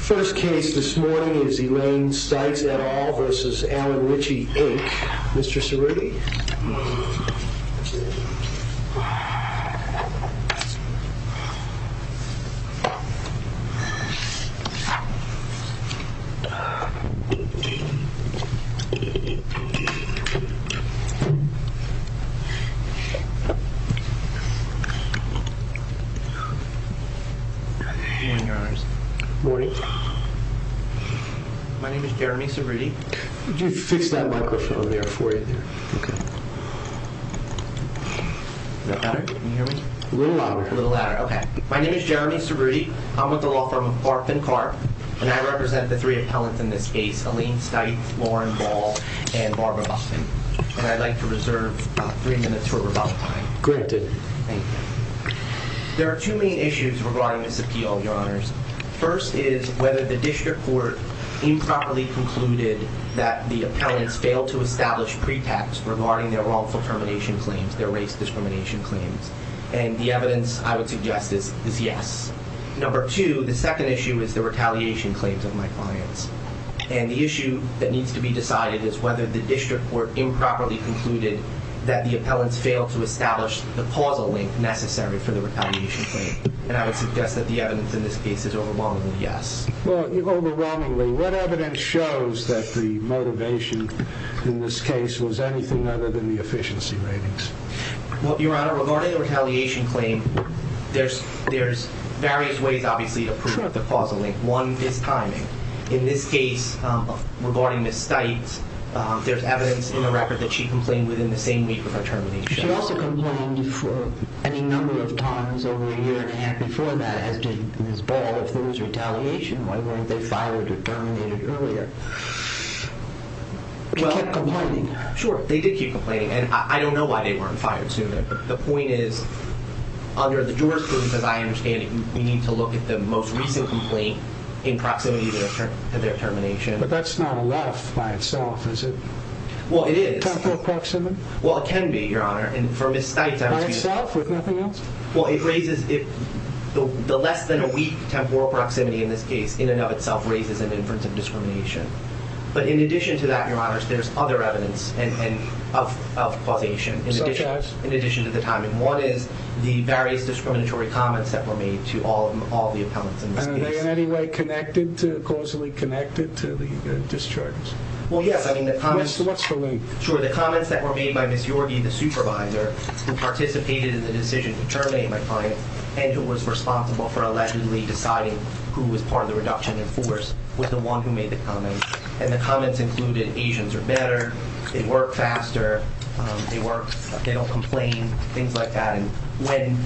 First case this morning is Elaine Stites et al v. Alan Ritchey Inc. Mr. Cerruti. My name is Jeremy Cerruti. I'm with the law firm Arp and Carp and I represent the three appellants in this case, Elaine Stites, Lauren Ball, and Barbara Buston. I'd like to reserve about three minutes for rebuttal time. Granted. Thank you. There are two main issues regarding this appeal, your honors. First is whether the district court improperly concluded that the appellants failed to establish pretext regarding their wrongful termination claims, their race discrimination claims. And the evidence I would suggest is yes. Number two, the second issue is the retaliation claims of my clients. And the issue that needs to be decided is whether the district court improperly concluded that the appellants failed to establish the causal link necessary for the retaliation claim. And I would suggest that the evidence in this case is overwhelmingly yes. Well, overwhelmingly, what evidence shows that the motivation in this case was anything other than the efficiency ratings? Well, your honor, regarding the retaliation claim, there's various ways, obviously, to prove the causal link. One is timing. In this case, regarding Ms. Stites, there's evidence in the record that she complained within the same week of her termination. She also complained a number of times over a year and a half before that, as did Ms. Ball. If there was retaliation, why weren't they fired or terminated earlier? She kept complaining. Sure. They did keep complaining. And I don't know why they weren't fired sooner. The point is, under the jurisprudence, because I understand it, we need to look at the most recent complaint in proximity to their termination. But that's not enough by itself, is it? Well, it is. Temporal proximity? Well, it can be, your honor. And for Ms. Stites, I would speak to that. By itself, with nothing else? Well, it raises the less than a week temporal proximity in this case, in and of itself, raises an inference of discrimination. But in addition to that, your honors, there's other evidence of causation. Such as? In addition to the timing. One is the various discriminatory comments that were made to all the appellants in this case. And are they in any way connected to, causally connected to the discharges? Well, yes. I mean, the comments... What's the link? Sure. The comments that were made by Ms. Yorkey, the supervisor, who participated in the decision to terminate my client, and who was responsible for allegedly deciding who was part of the reduction in force, was the one who made the comments. And the comments included Asians are better, they work faster, they don't complain, things like that. And when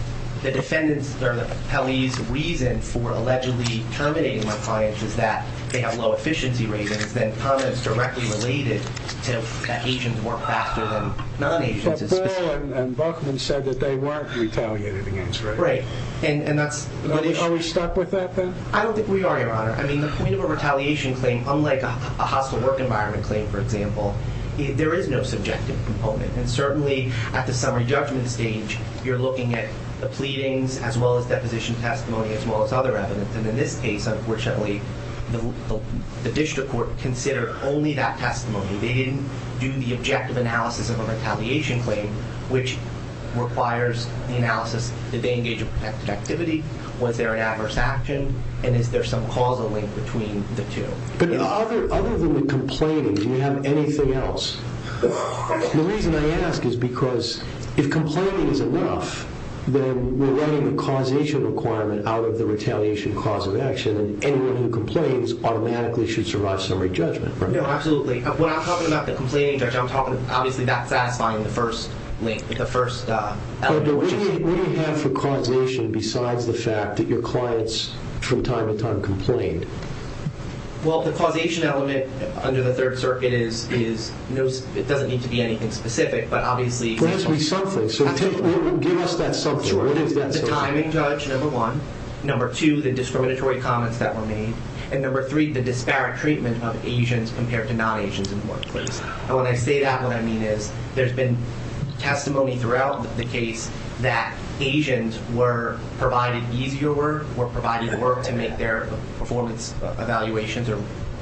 the defendant's, or the appellee's, reason for allegedly terminating my client is that they have low efficiency ratings, then comments directly related to that Asians work faster than non-Asians. But Bell and Buchman said that they weren't retaliated against, right? Right. And that's... Are we stuck with that, then? I don't think we are, your honor. I mean, the point of a retaliation claim, unlike a hostile work environment claim, for example, there is no subjective component. And certainly, at the summary judgment stage, you're looking at the pleadings, as well as deposition testimony, as well as other evidence. And in this case, unfortunately, the district court considered only that testimony. They didn't do the objective analysis of a retaliation claim, which requires the analysis, did they engage in protective activity? Was there an adverse action? And is there some causal link between the two? But other than the complaining, do we have anything else? The reason I ask is because, if complaining is enough, then we're running a causation requirement out of the retaliation cause of action. And anyone who complains automatically should survive summary judgment, right? No, absolutely. When I'm talking about the complaining judge, I'm talking, obviously, about satisfying the first link, the first element, which is... What do you have for causation, besides the fact that your clients, from time to time, complained? Well, the causation element under the Third Circuit is... It doesn't need to be anything specific, but obviously... It brings me something. So give us that something. What is that something? At the time, Judge, number one. Number two, the discriminatory comments that were made. And number three, the disparate treatment of Asians compared to non-Asians in the workplace. And when I say that, what I mean is, there's been testimony throughout the case that Asians were provided easier work, were provided work to make their performance evaluations,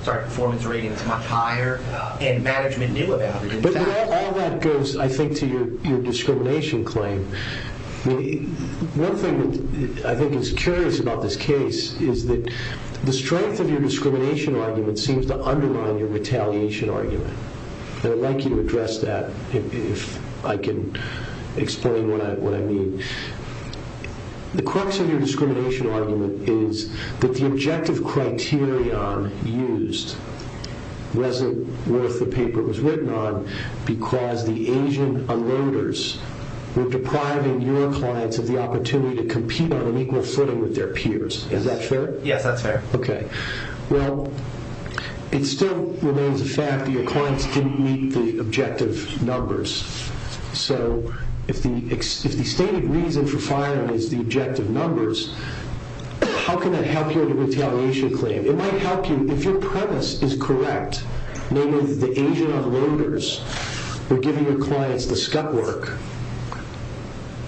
sorry, performance ratings much higher, and management knew about it. But all that goes, I think, to your discrimination claim. One thing that I think is curious about this case is that the strength of your discrimination argument seems to undermine your retaliation argument. I'd like you to address that, if I can explain what I mean. The crux of your discrimination argument is that the objective criterion used wasn't worth the paper it was written on, because the Asian unloaders were depriving your clients of the opportunity to compete on an equal footing with their peers. Is that fair? Yes, that's fair. Okay. Well, it still remains a fact that your clients didn't meet the objective numbers. So, if the stated reason for firing is the objective numbers, how can that help your retaliation claim? It might help you, if your premise is correct, namely the Asian unloaders were giving your clients the scut work,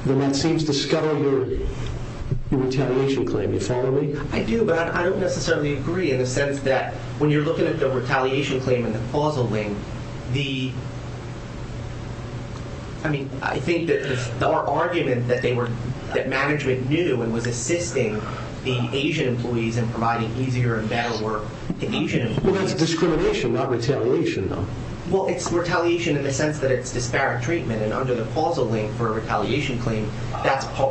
then that seems to scuttle your retaliation claim. I do, but I don't necessarily agree in the sense that when you're looking at the retaliation claim and the causal link, I think that our argument that management knew and was assisting the Asian employees in providing easier and better work to Asian employees. Well, that's discrimination, not retaliation, though. Well, it's retaliation in the sense that it's disparate treatment. And under the causal link for a retaliation claim,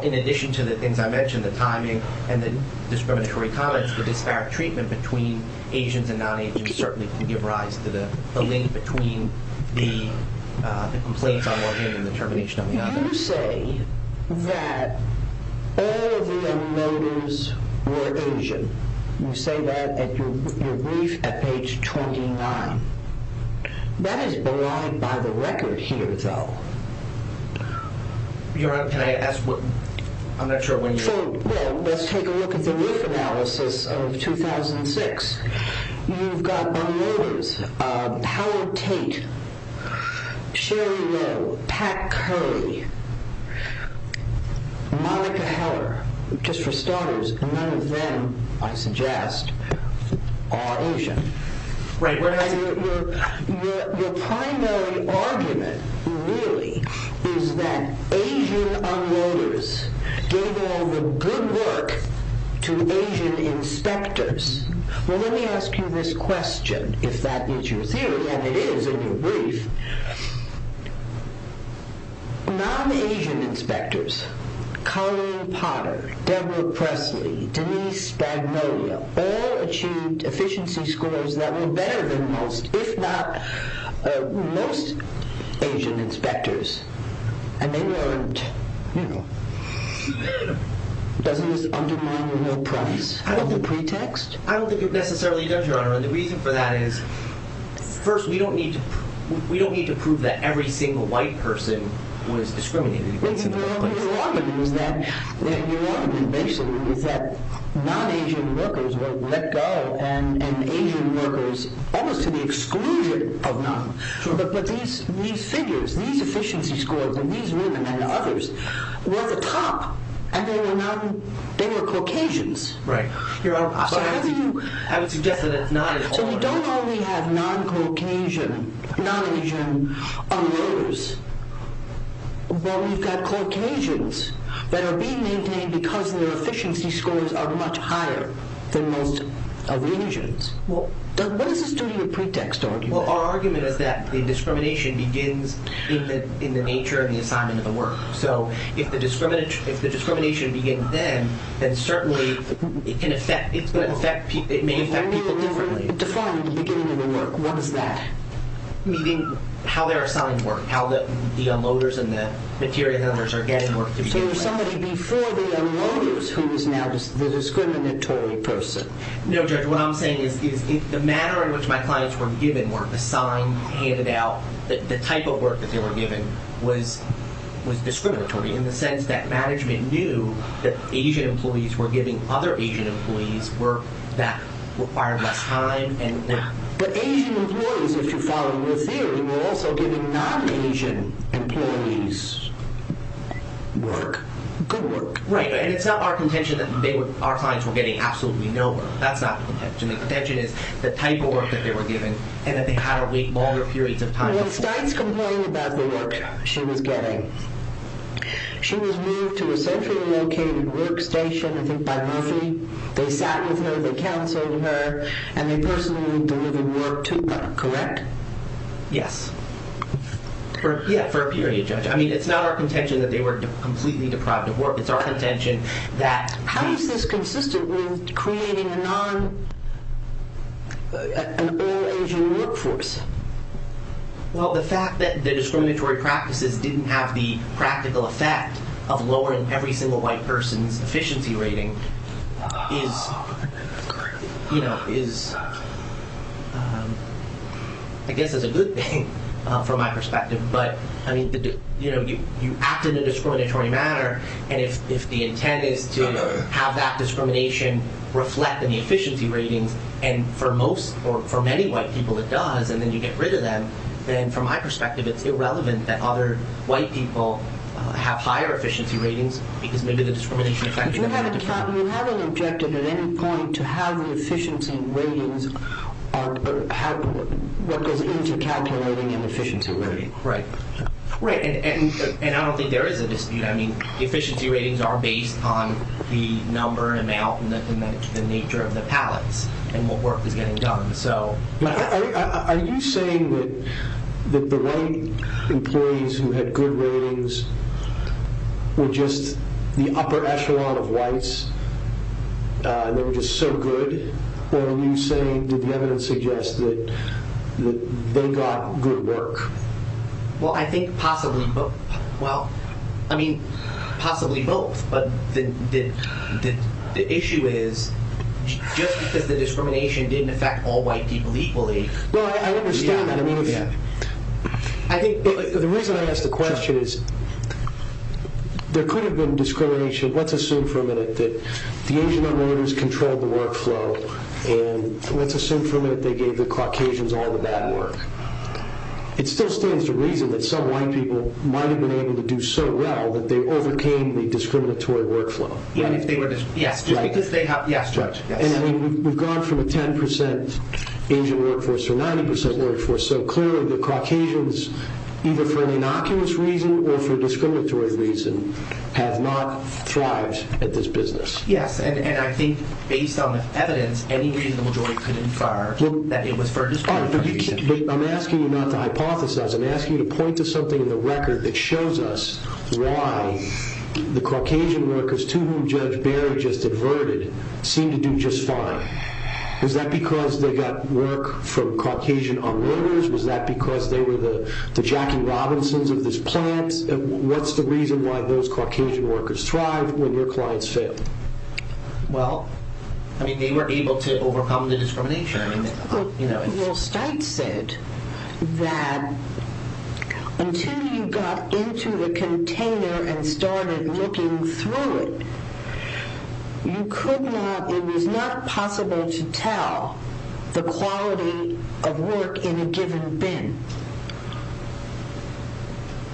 in addition to the things I mentioned, the timing and the discriminatory comments, the disparate treatment between Asians and non-Asians certainly can give rise to the link between the complaints on one hand and the termination on the other. You say that all of the unloaders were Asian. You say that at your brief at page 29. That is belied by the record here, though. I'm not sure when you're... Well, let's take a look at the roof analysis of 2006. You've got unloaders, Howard Tate, Sherry Lowe, Pat Curry, Monica Heller. Just for starters, none of them, I suggest, are Asian. Your primary argument, really, is that Asian unloaders gave all the good work to Asian inspectors. Well, let me ask you this question, if that is your theory, and it is in your brief. Non-Asian inspectors, Colleen Potter, Deborah Presley, Denise Spagnolia, all achieved efficiency scores that were better than most, if not most, Asian inspectors, and they weren't... Doesn't this undermine your price? I don't think it necessarily does, Your Honor. And the reason for that is, first, we don't need to prove that every single white person was discriminated against in the workplace. Well, your argument is that non-Asian workers were let go, and Asian workers almost to the exclusion of non-Asian workers. But these figures, these efficiency scores, and these women and others, were at the top, and they were Caucasians. Right. Your Honor, I would suggest that that's not at all... So we don't only have non-Caucasian unloaders, but we've got Caucasians that are being maintained because their efficiency scores are much higher than most of the Asians. What does this do to your pretext argument? Well, our argument is that the discrimination begins in the nature of the assignment of the work. So if the discrimination begins then, then certainly it may affect people differently. If only it were defined at the beginning of the work, what is that? Meaning how they're assigned work, how the unloaders and the material handlers are getting work to begin with. So there's somebody before the unloaders who is now the discriminatory person. No, Judge, what I'm saying is the manner in which my clients were given work, assigned, handed out, the type of work that they were Asian employees were giving other Asian employees work that required less time. But Asian employees, if you follow your theory, were also giving non-Asian employees work. Good work. Right, and it's not our contention that our clients were getting absolutely no work. That's not the contention. The contention is the type of work that they were given, and that they had to wait longer periods of time before. When Stites complained about the work she was getting, she was moved to a centrally located workstation, I think by Murphy. They sat with her, they counseled her, and they personally delivered work to her. Correct? Yes. Yeah, for a period, Judge. I mean, it's not our contention that they were completely deprived of work. It's our contention that... How is this consistent with creating a non... an all-Asian workforce? Well, the fact that the discriminatory practices didn't have the practical effect of lowering every single white person's efficiency rating is, I guess, is a good thing from my perspective. But, I mean, you acted in a discriminatory manner, and if the intent is to have that discrimination reflect in the efficiency ratings, and for most, or for many white people it does, and then you get rid of them, then, from my perspective, it's irrelevant that other white people have higher efficiency ratings, because maybe the discrimination effect... You haven't objected at any point to how the efficiency ratings are... what goes into calculating an efficiency rating. Right. And I don't think there is a dispute. I mean, efficiency ratings are based on the number, amount, and the nature of the pallets, and what work is getting done. Are you saying that the white employees who had good ratings were just the upper echelon of whites, and they were just so good, or are you saying that the evidence suggests that they got good work? Well, I think possibly both. I mean, possibly both, but the issue is just because the discrimination didn't affect all white people equally... Well, I understand that. The reason I ask the question is, there could have been discrimination, let's assume for a minute, that the Asian-Americans controlled the workflow, and let's assume for a minute they gave the Caucasians all the bad work. It still stands to reason that some white people might have been able to do so well that they overcame the discriminatory workflow. Right. And we've gone from a 10% Asian workforce to a 90% workforce, so clearly the Caucasians, either for an innocuous reason or for a discriminatory reason, have not thrived at this business. Yes, and I think based on the evidence, any reasonable jury could infer that it was for a discriminatory reason. I'm asking you not to hypothesize. I'm asking you to point to something in the record that seemed to do just fine. Was that because they got work from Caucasian unlawyers? Was that because they were the Jackie Robinsons of this plant? What's the reason why those Caucasian workers thrived when your clients failed? Well, I mean, they were able to overcome the discrimination. Well, Steitz said that until you got into the container and started looking through it, it was not possible to tell the quality of work in a given bin.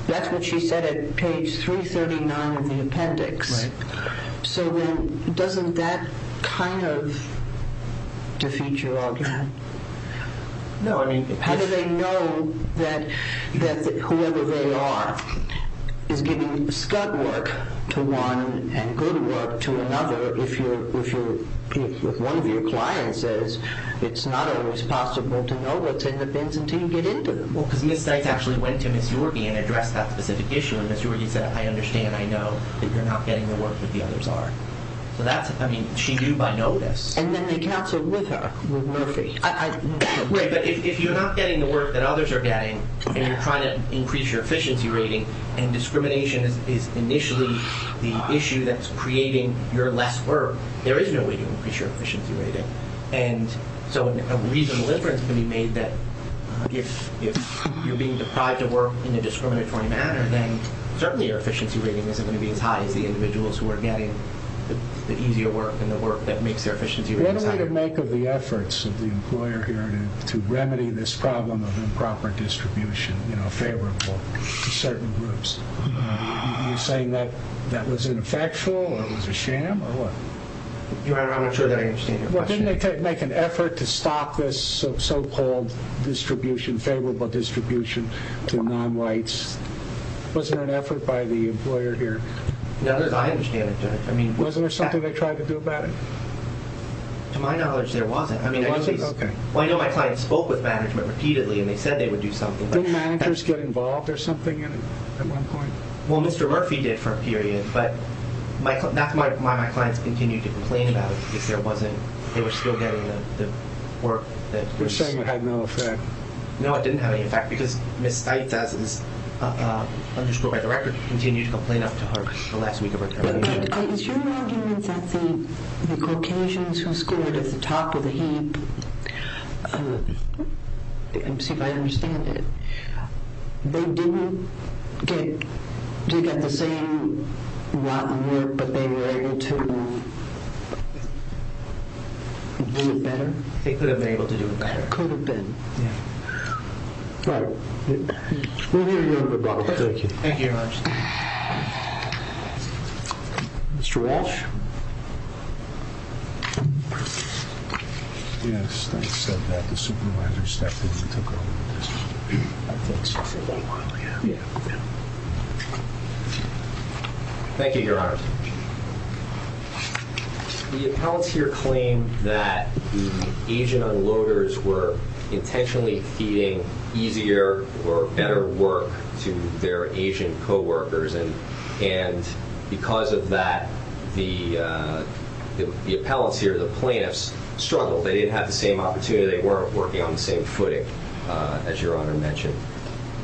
That's what she said page 339 of the appendix. So then doesn't that kind of defeat your argument? No. How do they know that whoever they are is giving scud work to one and good work to another if one of your clients says it's not always possible to know what's in the bins until you get into them? Well, because Ms. Steitz actually went to Ms. Yorkey and addressed that specific issue. And Ms. Yorkey said, I understand. I know that you're not getting the work that the others are. So that's, I mean, she knew by notice. And then they cancelled with her, with Murphy. But if you're not getting the work that others are getting, and you're trying to increase your efficiency rating, and discrimination is initially the issue that's creating your less work, there is no way to increase your efficiency rating. And so a reasonable inference can be made that if you're being deprived of work in a discriminatory manner, then certainly your efficiency rating isn't going to be as high as the individuals who are getting the easier work and the work that makes their efficiency ratings higher. What did they make of the efforts of the employer here to remedy this problem of improper distribution, you know, favorable to certain groups? Are you saying that that was ineffectual or it was a sham or what? Your Honor, I'm not sure that I understand your question. Didn't they make an effort to stop this so-called distribution, favorable distribution to non-whites? Was there an effort by the employer here? No, as I understand it, Your Honor. Wasn't there something they tried to do about it? To my knowledge, there wasn't. Okay. Well, I know my clients spoke with management repeatedly and they said they would do something. Didn't managers get involved or something at one point? Well, Mr. Murphy did for a period, but that's why my clients continued to complain about if there wasn't, they were still getting the work. You're saying it had no effect? No, it didn't have any effect because Ms. Steith, as is underscored by the record, continued to complain up to her the last week of her termination. Is your argument that the Caucasians who scored at the top of the heap, let me see if I understand it, they didn't get the same amount of work, but they were able to do it better? They could have been able to do it better. Could have been. Yeah. All right. We'll hear you in a bit, Robert. Thank you. Thank you, Your Honor. Mr. Walsh? Yeah, Steith said that the supervisor stepped in and took over the distribution. I think so. For a while, yeah. Yeah. Thank you, Your Honor. The appellants here claim that the Asian unloaders were intentionally feeding easier or better work to their Asian co-workers, and because of that, the appellants here, the plaintiffs, struggled. They didn't have the same opportunity. They weren't working on the same footing, as Your Honor mentioned.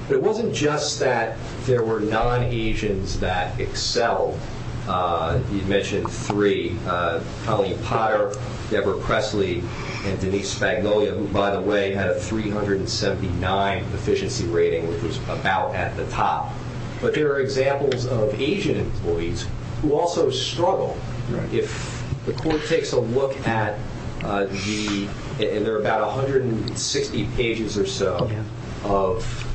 It wasn't just that there were non-Asians that excelled. You mentioned three, Colleen Potter, Deborah Presley, and Denise Spagnolia, who, by the way, had a 379 efficiency rating, which was about at the top. But there are examples of Asian employees who also struggle. If the court takes a look at the – and there are about 160 pages or so of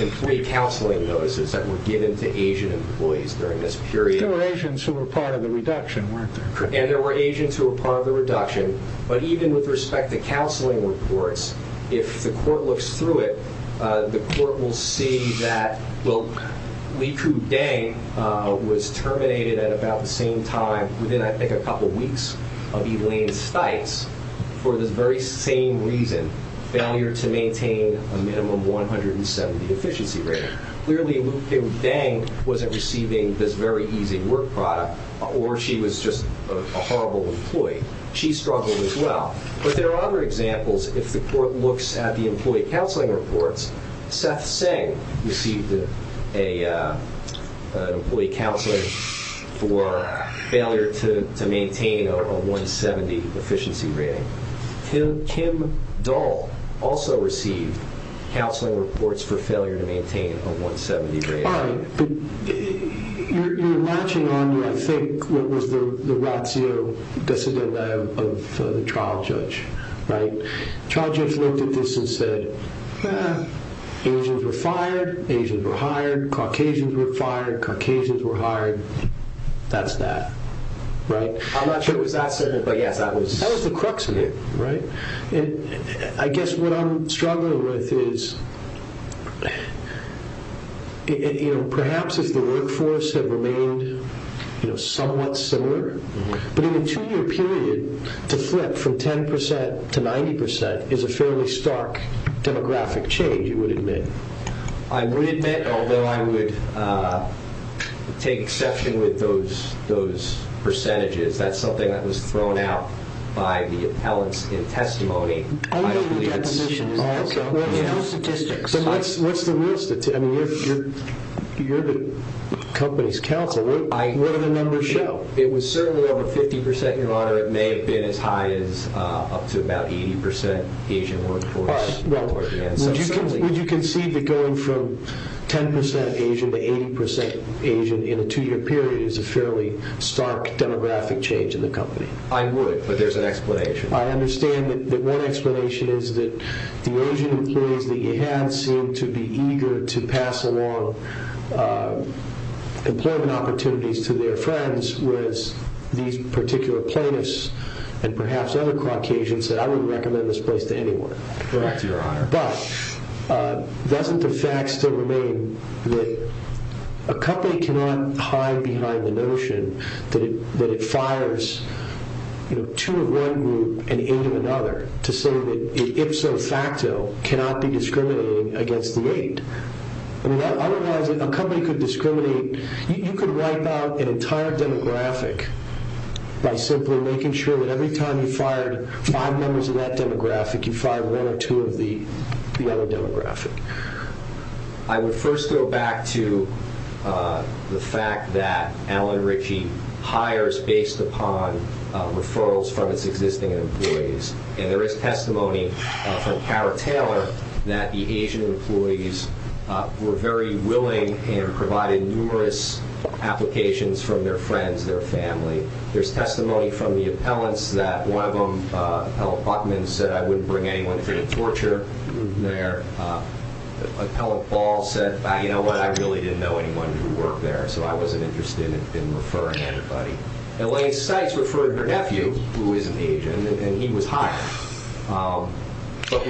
employee counseling notices that were given to Asian employees during this period. There were Asians who were part of the reduction, weren't there? And there were Asians who were part of the reduction. But even with respect to counseling reports, if the court looks through it, the court will see that Likud Dang was terminated at about the same time, within, I think, a couple weeks of Elaine Stites, for this very same reason, failure to maintain a minimum 170 efficiency rating. Clearly, Likud Dang wasn't receiving this very easy work product, or she was just a horrible employee. She struggled as well. But there are other examples. If the court looks at the employee counseling reports, Seth Seng received an employee counseling for failure to maintain a 170 efficiency rating. Kim Dahl also received counseling reports for failure to maintain a 170 rating. All right. But you're latching on to, I think, what was the ratio of the trial judge. The trial judge looked at this and said, Asians were fired, Asians were hired, Caucasians were fired, Caucasians were hired. That's that, right? I'm not sure it was that certain, but yes, that was... That was the crux of it, right? I guess what I'm struggling with is, perhaps if the workforce had remained somewhat similar, but in a two-year period, to flip from 10% to 90% is a fairly stark demographic change, you would admit. I would admit, although I would take exception with those percentages. That's something that was thrown out by the appellants in testimony. I don't believe it's... Okay. What's the real statistics? What's the real statistics? I mean, you're the company's counsel. What do the numbers show? It was certainly over 50%, Your Honor. It may have been as high as up to about 80% Asian workforce. All right. Well, would you concede that going from 10% Asian to 80% Asian in a two-year period is a fairly stark demographic change in the company? I would, but there's an explanation. I understand that one explanation is that the Asian employees that you had seemed to be eager to pass along employment opportunities to their friends, whereas these particular plaintiffs and perhaps other Caucasians said, I wouldn't recommend this place to anyone. Correct, Your Honor. But doesn't the fact still remain that a company cannot hide behind the notion that it fires two of one group and eight of another to say that it, ipso facto, cannot be discriminating against the eight. I mean, otherwise a company could discriminate. You could wipe out an entire demographic by simply making sure that every time you fired five members of that demographic, you fired one or two of the other demographic. I would first go back to the fact that Allen Ritchie hires based upon referrals from its existing employees. And there is testimony from Kara Taylor that the Asian employees were very willing and provided numerous applications from their friends, their family. There's testimony from the appellants that one of them, Appellant Buckman, said, I wouldn't bring anyone into torture there. Appellant Ball said, you know what? I really didn't know anyone who worked there, so I wasn't interested in referring anybody. Elaine Sykes referred her nephew, who is an Asian, and he was hired. So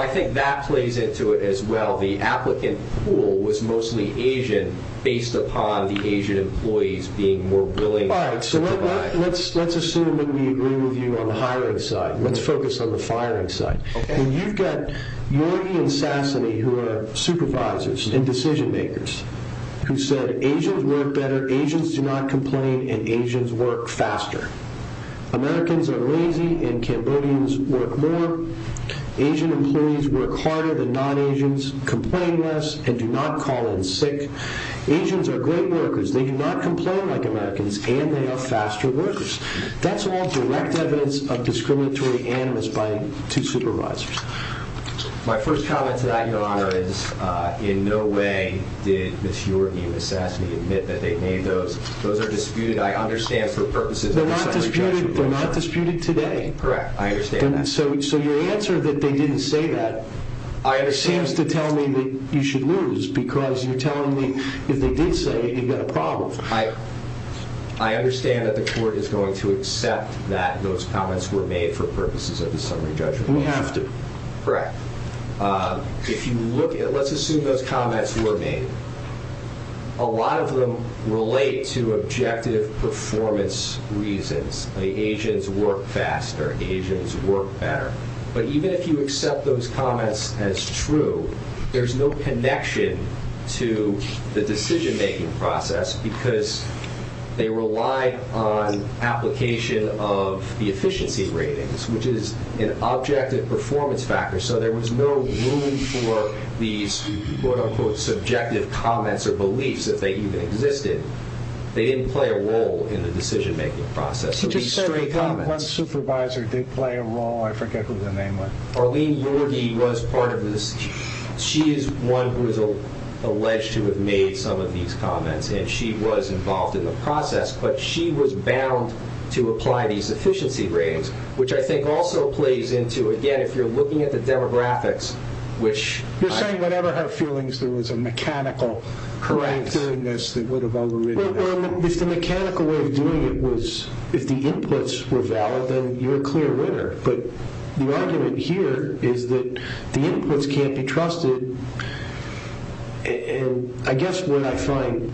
I think that plays into it as well. The applicant pool was mostly Asian based upon the Asian employees being more willing to provide. All right, so let's assume that we agree with you on the hiring side. Let's focus on the firing side. And you've got Yorgie and Sassany, who are supervisors and decision makers, who said Asians work better, Asians do not complain, and Asians work faster. Americans are lazy and Cambodians work more. Asian employees work harder than non-Asians, complain less, and do not call in sick. Asians are great workers, they do not complain like Americans, and they are faster workers. That's all direct evidence of discriminatory animus by two supervisors. My first comment to that, Your Honor, is in no way did Ms. Yorgie and Ms. Sassany admit that they made those. Those are disputed, I understand, for purposes of a separate judgment. They're not disputed today. Correct, I understand that. So your answer that they didn't say that seems to tell me that you should lose, because you're telling me if they did say it, you've got a problem. I understand that the court is going to accept that those comments were made for purposes of the summary judgment. We have to. Correct. Let's assume those comments were made. A lot of them relate to objective performance reasons. Asians work faster, Asians work better. But even if you accept those comments as true, there's no connection to the decision-making process because they relied on application of the efficiency ratings, which is an objective performance factor. So there was no room for these, quote-unquote, subjective comments or beliefs if they even existed. They didn't play a role in the decision-making process. You just said one supervisor did play a role. I forget who the name was. Arlene Yorgi was part of this. She is one who is alleged to have made some of these comments, and she was involved in the process, but she was bound to apply these efficiency ratings, which I think also plays into, again, if you're looking at the demographics, which – You're saying whatever her feelings, there was a mechanical – Correct. – character in this that would have overridden it. Well, if the mechanical way of doing it was – if the inputs were valid, then you're a clear winner. But the argument here is that the inputs can't be trusted, and I guess what I find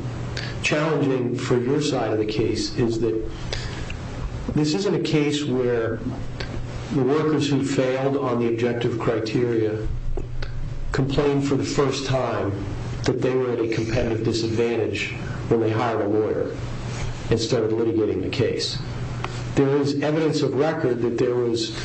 challenging for your side of the case is that this isn't a case where the workers who failed on the objective criteria complained for the first time that they were at a competitive disadvantage when they hired a lawyer instead of litigating the case. There is evidence of record that there was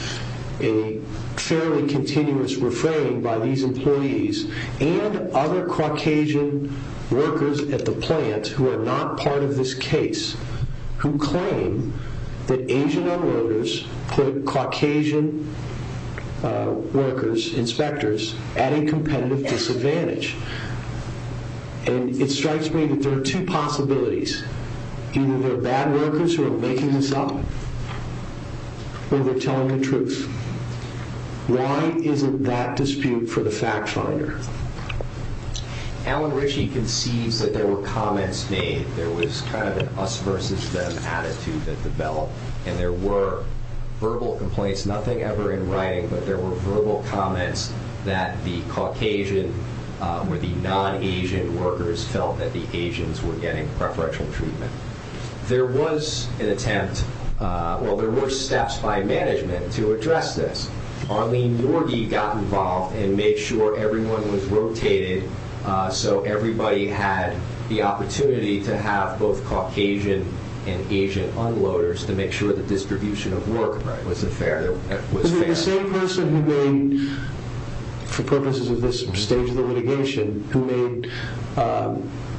a fairly continuous refrain by these employees and other Caucasian workers at the plant who are not part of this case who claim that Asian-O workers put Caucasian workers, inspectors, at a competitive disadvantage. And it strikes me that there are two possibilities. Either they're bad workers who are making this up or they're telling the truth. Why isn't that dispute for the fact finder? Alan Ritchie conceives that there were comments made. There was kind of an us-versus-them attitude that developed, and there were verbal complaints, nothing ever in writing, but there were verbal comments that the Caucasian or the non-Asian workers felt that the Asians were getting preferential treatment. There was an attempt, well, there were steps by management to address this. Arlene Yorgi got involved and made sure everyone was rotated so everybody had the opportunity to have both Caucasian and Asian unloaders to make sure the distribution of work was fair. The same person who made, for purposes of this stage of the litigation, who made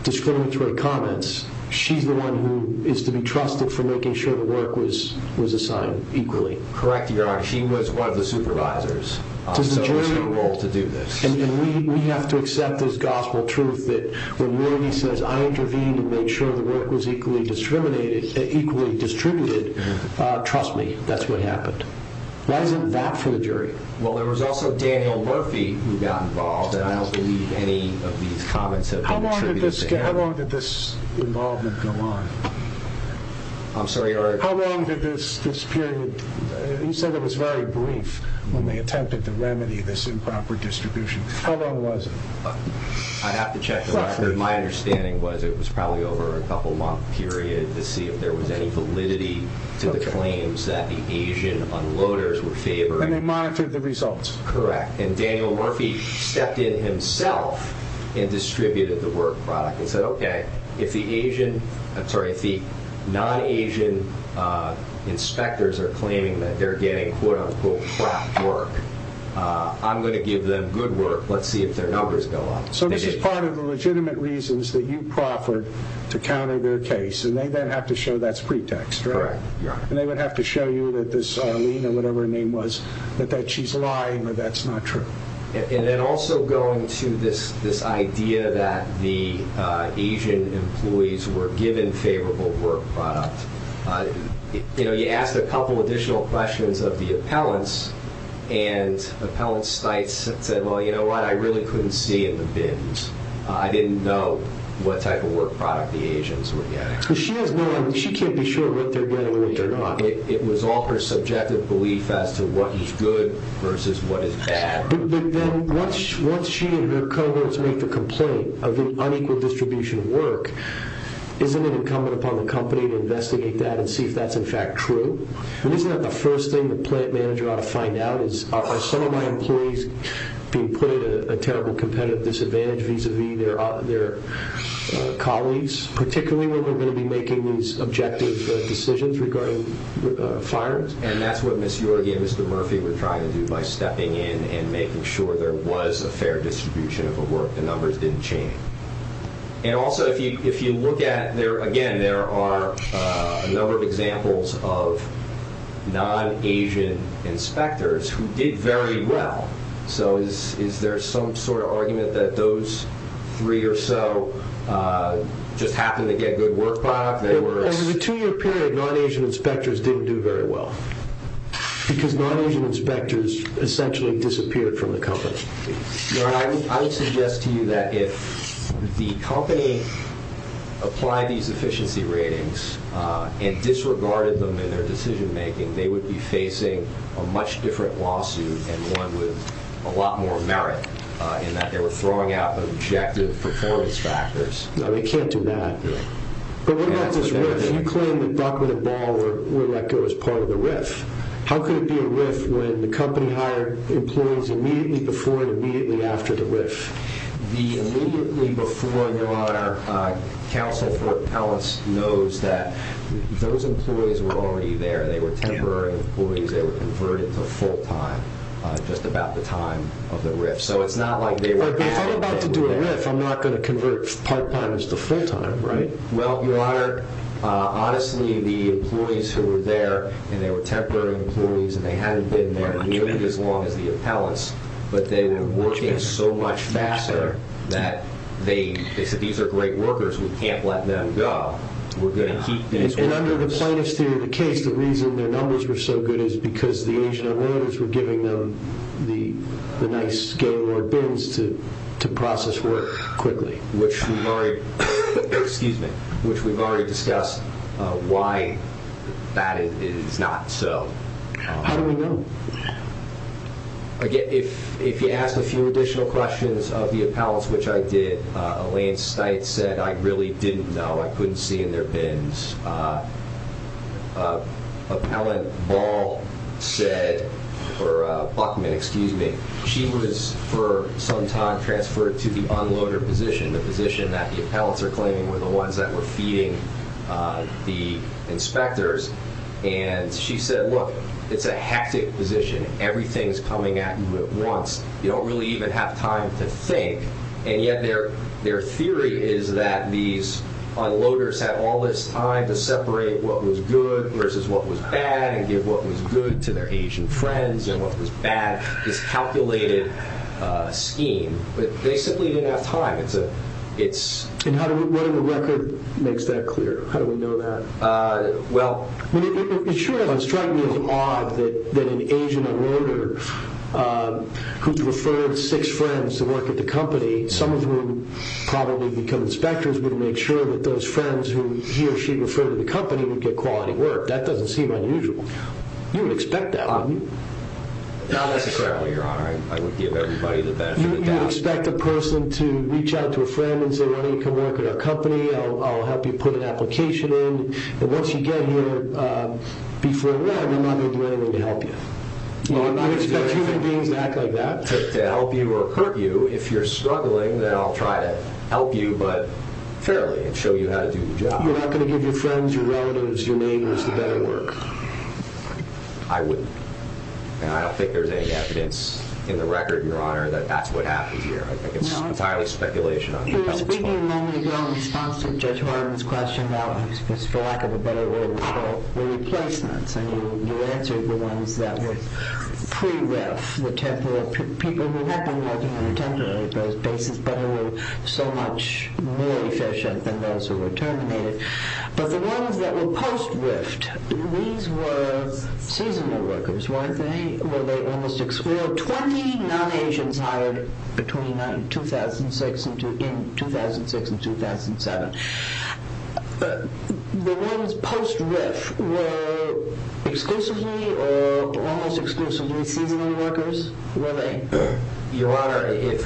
discriminatory comments, she's the one who is to be trusted for making sure the work was assigned equally. Correct, Your Honor. She was one of the supervisors. So it was her role to do this. And we have to accept this gospel truth that when Yorgi says, I intervened to make sure the work was equally distributed, trust me, that's what happened. Why isn't that for the jury? Well, there was also Daniel Murphy who got involved, and I don't believe any of these comments have been attributed to him. How long did this involvement go on? I'm sorry, Your Honor? How long did this period, you said it was very brief when they attempted to remedy this improper distribution. How long was it? I'd have to check the record. My understanding was it was probably over a couple-month period to see if there was any validity to the claims that the Asian unloaders were favoring. And they monitored the results. Correct. And Daniel Murphy stepped in himself and distributed the work product and said, okay, if the non-Asian inspectors are claiming that they're getting, quote-unquote, crap work, I'm going to give them good work. Let's see if their numbers go up. So this is part of the legitimate reasons that you proffered to counter their case. And they then have to show that's pretext, right? Correct, Your Honor. And they would have to show you that this Arlene or whatever her name was, that she's lying or that's not true. And then also going to this idea that the Asian employees were given favorable work product. You know, you asked a couple additional questions of the appellants, and Appellant Steitz said, well, you know what? I really couldn't see in the bins. I didn't know what type of work product the Asians were getting. Because she has no idea. She can't be sure what they're getting or what they're not. It was all her subjective belief as to what is good versus what is bad. But then once she and her comrades make the complaint of the unequal distribution of work, isn't it incumbent upon the company to investigate that and see if that's, in fact, true? And isn't that the first thing the plant manager ought to find out is, are some of my employees being put at a terrible competitive disadvantage vis-à-vis their colleagues, particularly when we're going to be making these objective decisions regarding fires? And that's what Ms. Yorga and Mr. Murphy were trying to do by stepping in and making sure there was a fair distribution of work, the numbers didn't change. And also if you look at, again, there are a number of examples of non-Asian inspectors who did very well. So is there some sort of argument that those three or so just happened to get good work product? There was a two-year period non-Asian inspectors didn't do very well because non-Asian inspectors essentially disappeared from the company. I would suggest to you that if the company applied these efficiency ratings and disregarded them in their decision-making, they would be facing a much different lawsuit and one with a lot more merit in that they were throwing out objective performance factors. No, they can't do that. But what about this RIF? You claim that Dr. DeBall would let go as part of the RIF. How could it be a RIF when the company hired employees immediately before and immediately after the RIF? The immediately before and after counsel for appellants knows that those employees were already there. They were temporary employees. They were converted to full-time just about the time of the RIF. So it's not like they were- But if I'm about to do a RIF, I'm not going to convert part-timers to full-time, right? Well, Your Honor, honestly, the employees who were there and they were temporary employees and they hadn't been there nearly as long as the appellants, but they were working so much faster that they said, these are great workers, we can't let them go. We're going to keep these workers. And under the plaintiff's theory of the case, the reason their numbers were so good is because the Asian-Americans were giving them the nice game or bins to process work quickly. Which we've already discussed why that is not so. How do we know? Again, if you ask a few additional questions of the appellants, which I did, Elaine Stite said, I really didn't know. I couldn't see in their bins. Appellant Ball said, or Buckman, excuse me, she was for some time transferred to the unloader position, the position that the appellants are claiming were the ones that were feeding the inspectors. And she said, look, it's a hectic position. Everything's coming at you at once. You don't really even have time to think. And yet their theory is that these unloaders had all this time to separate what was good versus what was bad and give what was good to their Asian friends and what was bad, this calculated scheme. But they simply didn't have time. And what in the record makes that clear? How do we know that? It sure doesn't strike me as odd that an Asian unloader who's referred six friends to work at the company, some of whom probably become inspectors, would make sure that those friends who he or she referred to the company would get quality work. That doesn't seem unusual. You would expect that, wouldn't you? No, that's a fair point, Your Honor. I would give everybody the benefit of the doubt. You would expect a person to reach out to a friend and say, why don't you come work at our company? I'll help you put an application in. And once you get here, before then, I'm not going to do anything to help you. Well, I'm not going to expect human beings to act like that. To help you or hurt you, if you're struggling, then I'll try to help you, but fairly, and show you how to do the job. You're not going to give your friends, your relatives, your neighbors the better work? I wouldn't. And I don't think there's any evidence in the record, Your Honor, that that's what happened here. I think it's entirely speculation. You were speaking a moment ago in response to Judge Horton's question about, for lack of a better word, the replacements. And you answered the ones that were pre-RIF, the temporary people who had been working on a temporary basis, but who were so much more efficient than those who were terminated. But the ones that were post-RIF, these were seasonal workers, weren't they? Well, 20 non-Asians hired between 2006 and 2007. The ones post-RIF were exclusively or almost exclusively seasonal workers, were they? Your Honor,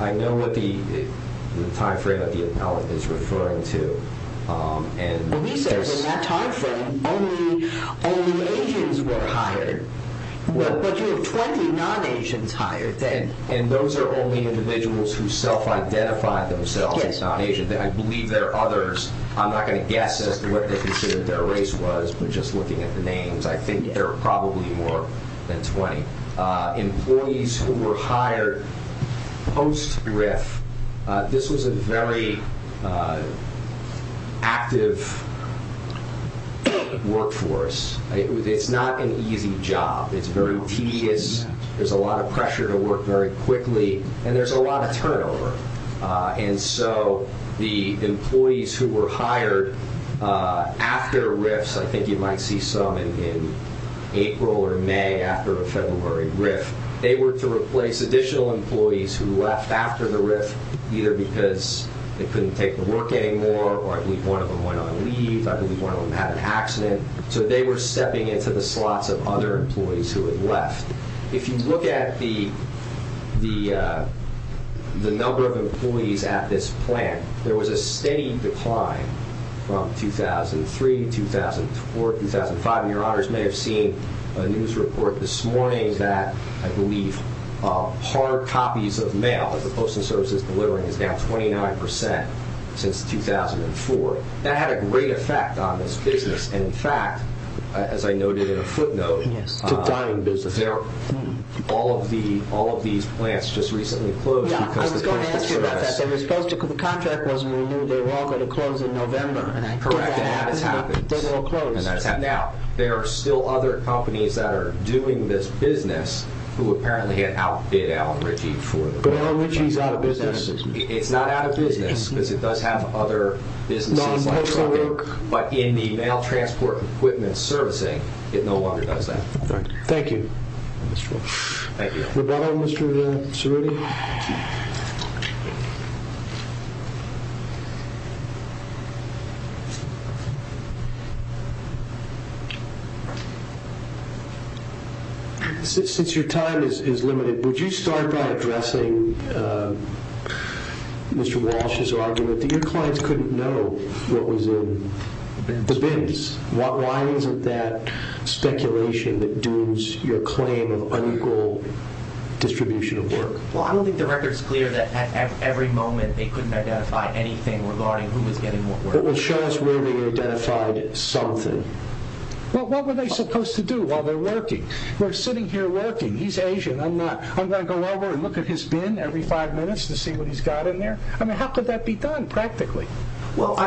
I know what the time frame of the appellate is referring to. And he says in that time frame, only Asians were hired. But you have 20 non-Asians hired. And those are only individuals who self-identified themselves as non-Asian. I believe there are others. I'm not going to guess as to what they considered their race was, but just looking at the names, I think there are probably more than 20 employees who were hired post-RIF. This was a very active workforce. It's not an easy job. It's very tedious. There's a lot of pressure to work very quickly. And there's a lot of turnover. And so the employees who were hired after RIFs, I think you might see some in April or May after a February RIF, they were to replace additional employees who left after the RIF, either because they couldn't take the work anymore or I believe one of them went on leave, I believe one of them had an accident. So they were stepping into the slots of other employees who had left. If you look at the number of employees at this plant, there was a steady decline from 2003 to 2004, 2005. And your honors may have seen a news report this morning that I believe hard copies of mail that the Postal Service is delivering is down 29% since 2004. That had a great effect on this business. And in fact, as I noted in a footnote, all of these plants just recently closed. I was going to ask you about that. The contract wasn't renewed. They were all going to close in November. Correct. And that has happened. They were all closed. Now, there are still other companies that are doing this business who apparently had outbid Alan Ritchie for the plant. But Alan Ritchie is out of business. It's not out of business because it does have other businesses. But in the mail transport equipment servicing, it no longer does that. Thank you. Since your time is limited, would you start by addressing Mr. Walsh's argument that your clients couldn't know what was in the bins? Why isn't that speculation that dooms your claim of unequal distribution of work? Well, I don't think the record is clear that at every moment they couldn't identify anything regarding who was getting what work. Well, show us where they identified something. Well, what were they supposed to do while they're working? We're sitting here working. He's Asian. I'm not. I'm going to go over and look at his bin every five minutes to see what he's got in there? I mean, how could that be done practically? Well,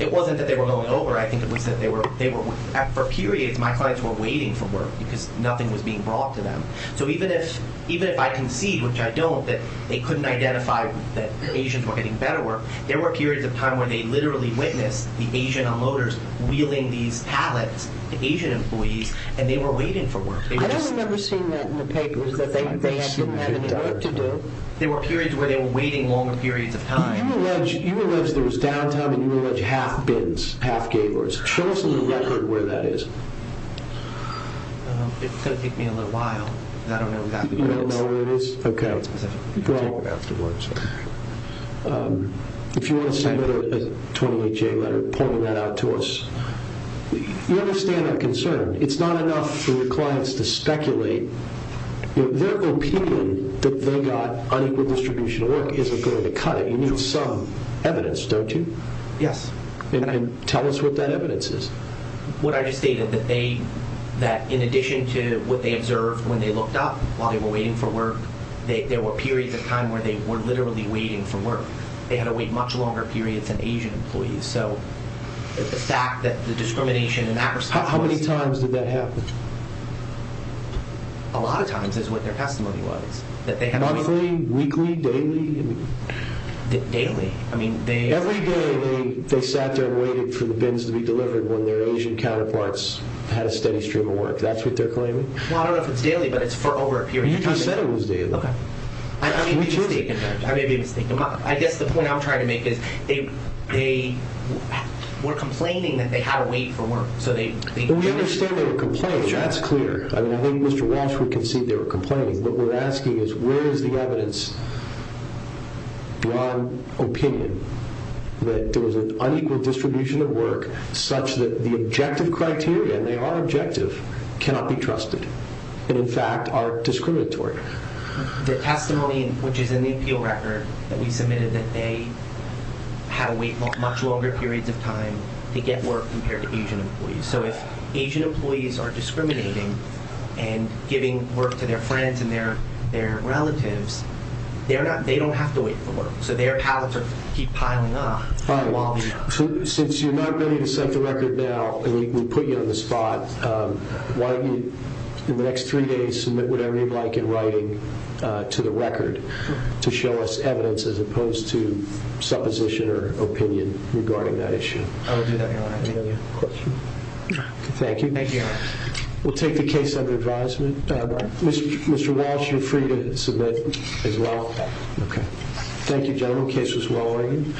it wasn't that they were going over. I think it was that for periods, my clients were waiting for work because nothing was being brought to them. So even if I concede, which I don't, that they couldn't identify that Asians were getting better work, there were periods of time where they literally witnessed the Asian unloaders wheeling these pallets to Asian employees, and they were waiting for work. I don't remember seeing that in the papers, that they didn't have any work to do. There were periods where they were waiting longer periods of time. You allege there was downtime, and you allege half bins, half gay bars. Show us on the record where that is. It's going to take me a little while. I don't know where that is. You don't know where it is? Okay. It's specific. If you want to send me a 28-J letter pointing that out to us. You understand that concern. It's not enough for your clients to speculate. Their opinion that they got unequal distribution of work isn't going to cut it. You need some evidence, don't you? Yes. Tell us what that evidence is. What I just stated, that in addition to what they observed when they looked up while they were waiting for work, there were periods of time where they were literally waiting for work. They had to wait much longer periods than Asian employees. The fact that the discrimination in that respect was— How many times did that happen? A lot of times is what their testimony was. Monthly, weekly, daily? Daily. Every day they sat there and waited for the bins to be delivered when their Asian counterparts had a steady stream of work. That's what they're claiming? I don't know if it's daily, but it's for over a period of time. You just said it was daily. I may be mistaken. I guess the point I'm trying to make is they were complaining that they had to wait for work. We understand they were complaining. That's clear. I think Mr. Walsh would concede they were complaining. What we're asking is where is the evidence beyond opinion that there was an unequal distribution of work such that the objective criteria—and they are objective—cannot be trusted and, in fact, are discriminatory? Their testimony, which is in the appeal record that we submitted, that they had to wait much longer periods of time to get work compared to Asian employees. If Asian employees are discriminating and giving work to their friends and their relatives, they don't have to wait for work, so their pallets keep piling up. Since you're not willing to set the record now and we put you on the spot, why don't you in the next three days submit whatever you'd like in writing to the record to show us evidence as opposed to supposition or opinion regarding that issue? I would do that, Your Honor. Any other questions? No. Thank you. Thank you, Your Honor. We'll take the case under advisement. Mr. Walsh, you're free to submit as well. Okay. Thank you, gentlemen. The case was well weighed.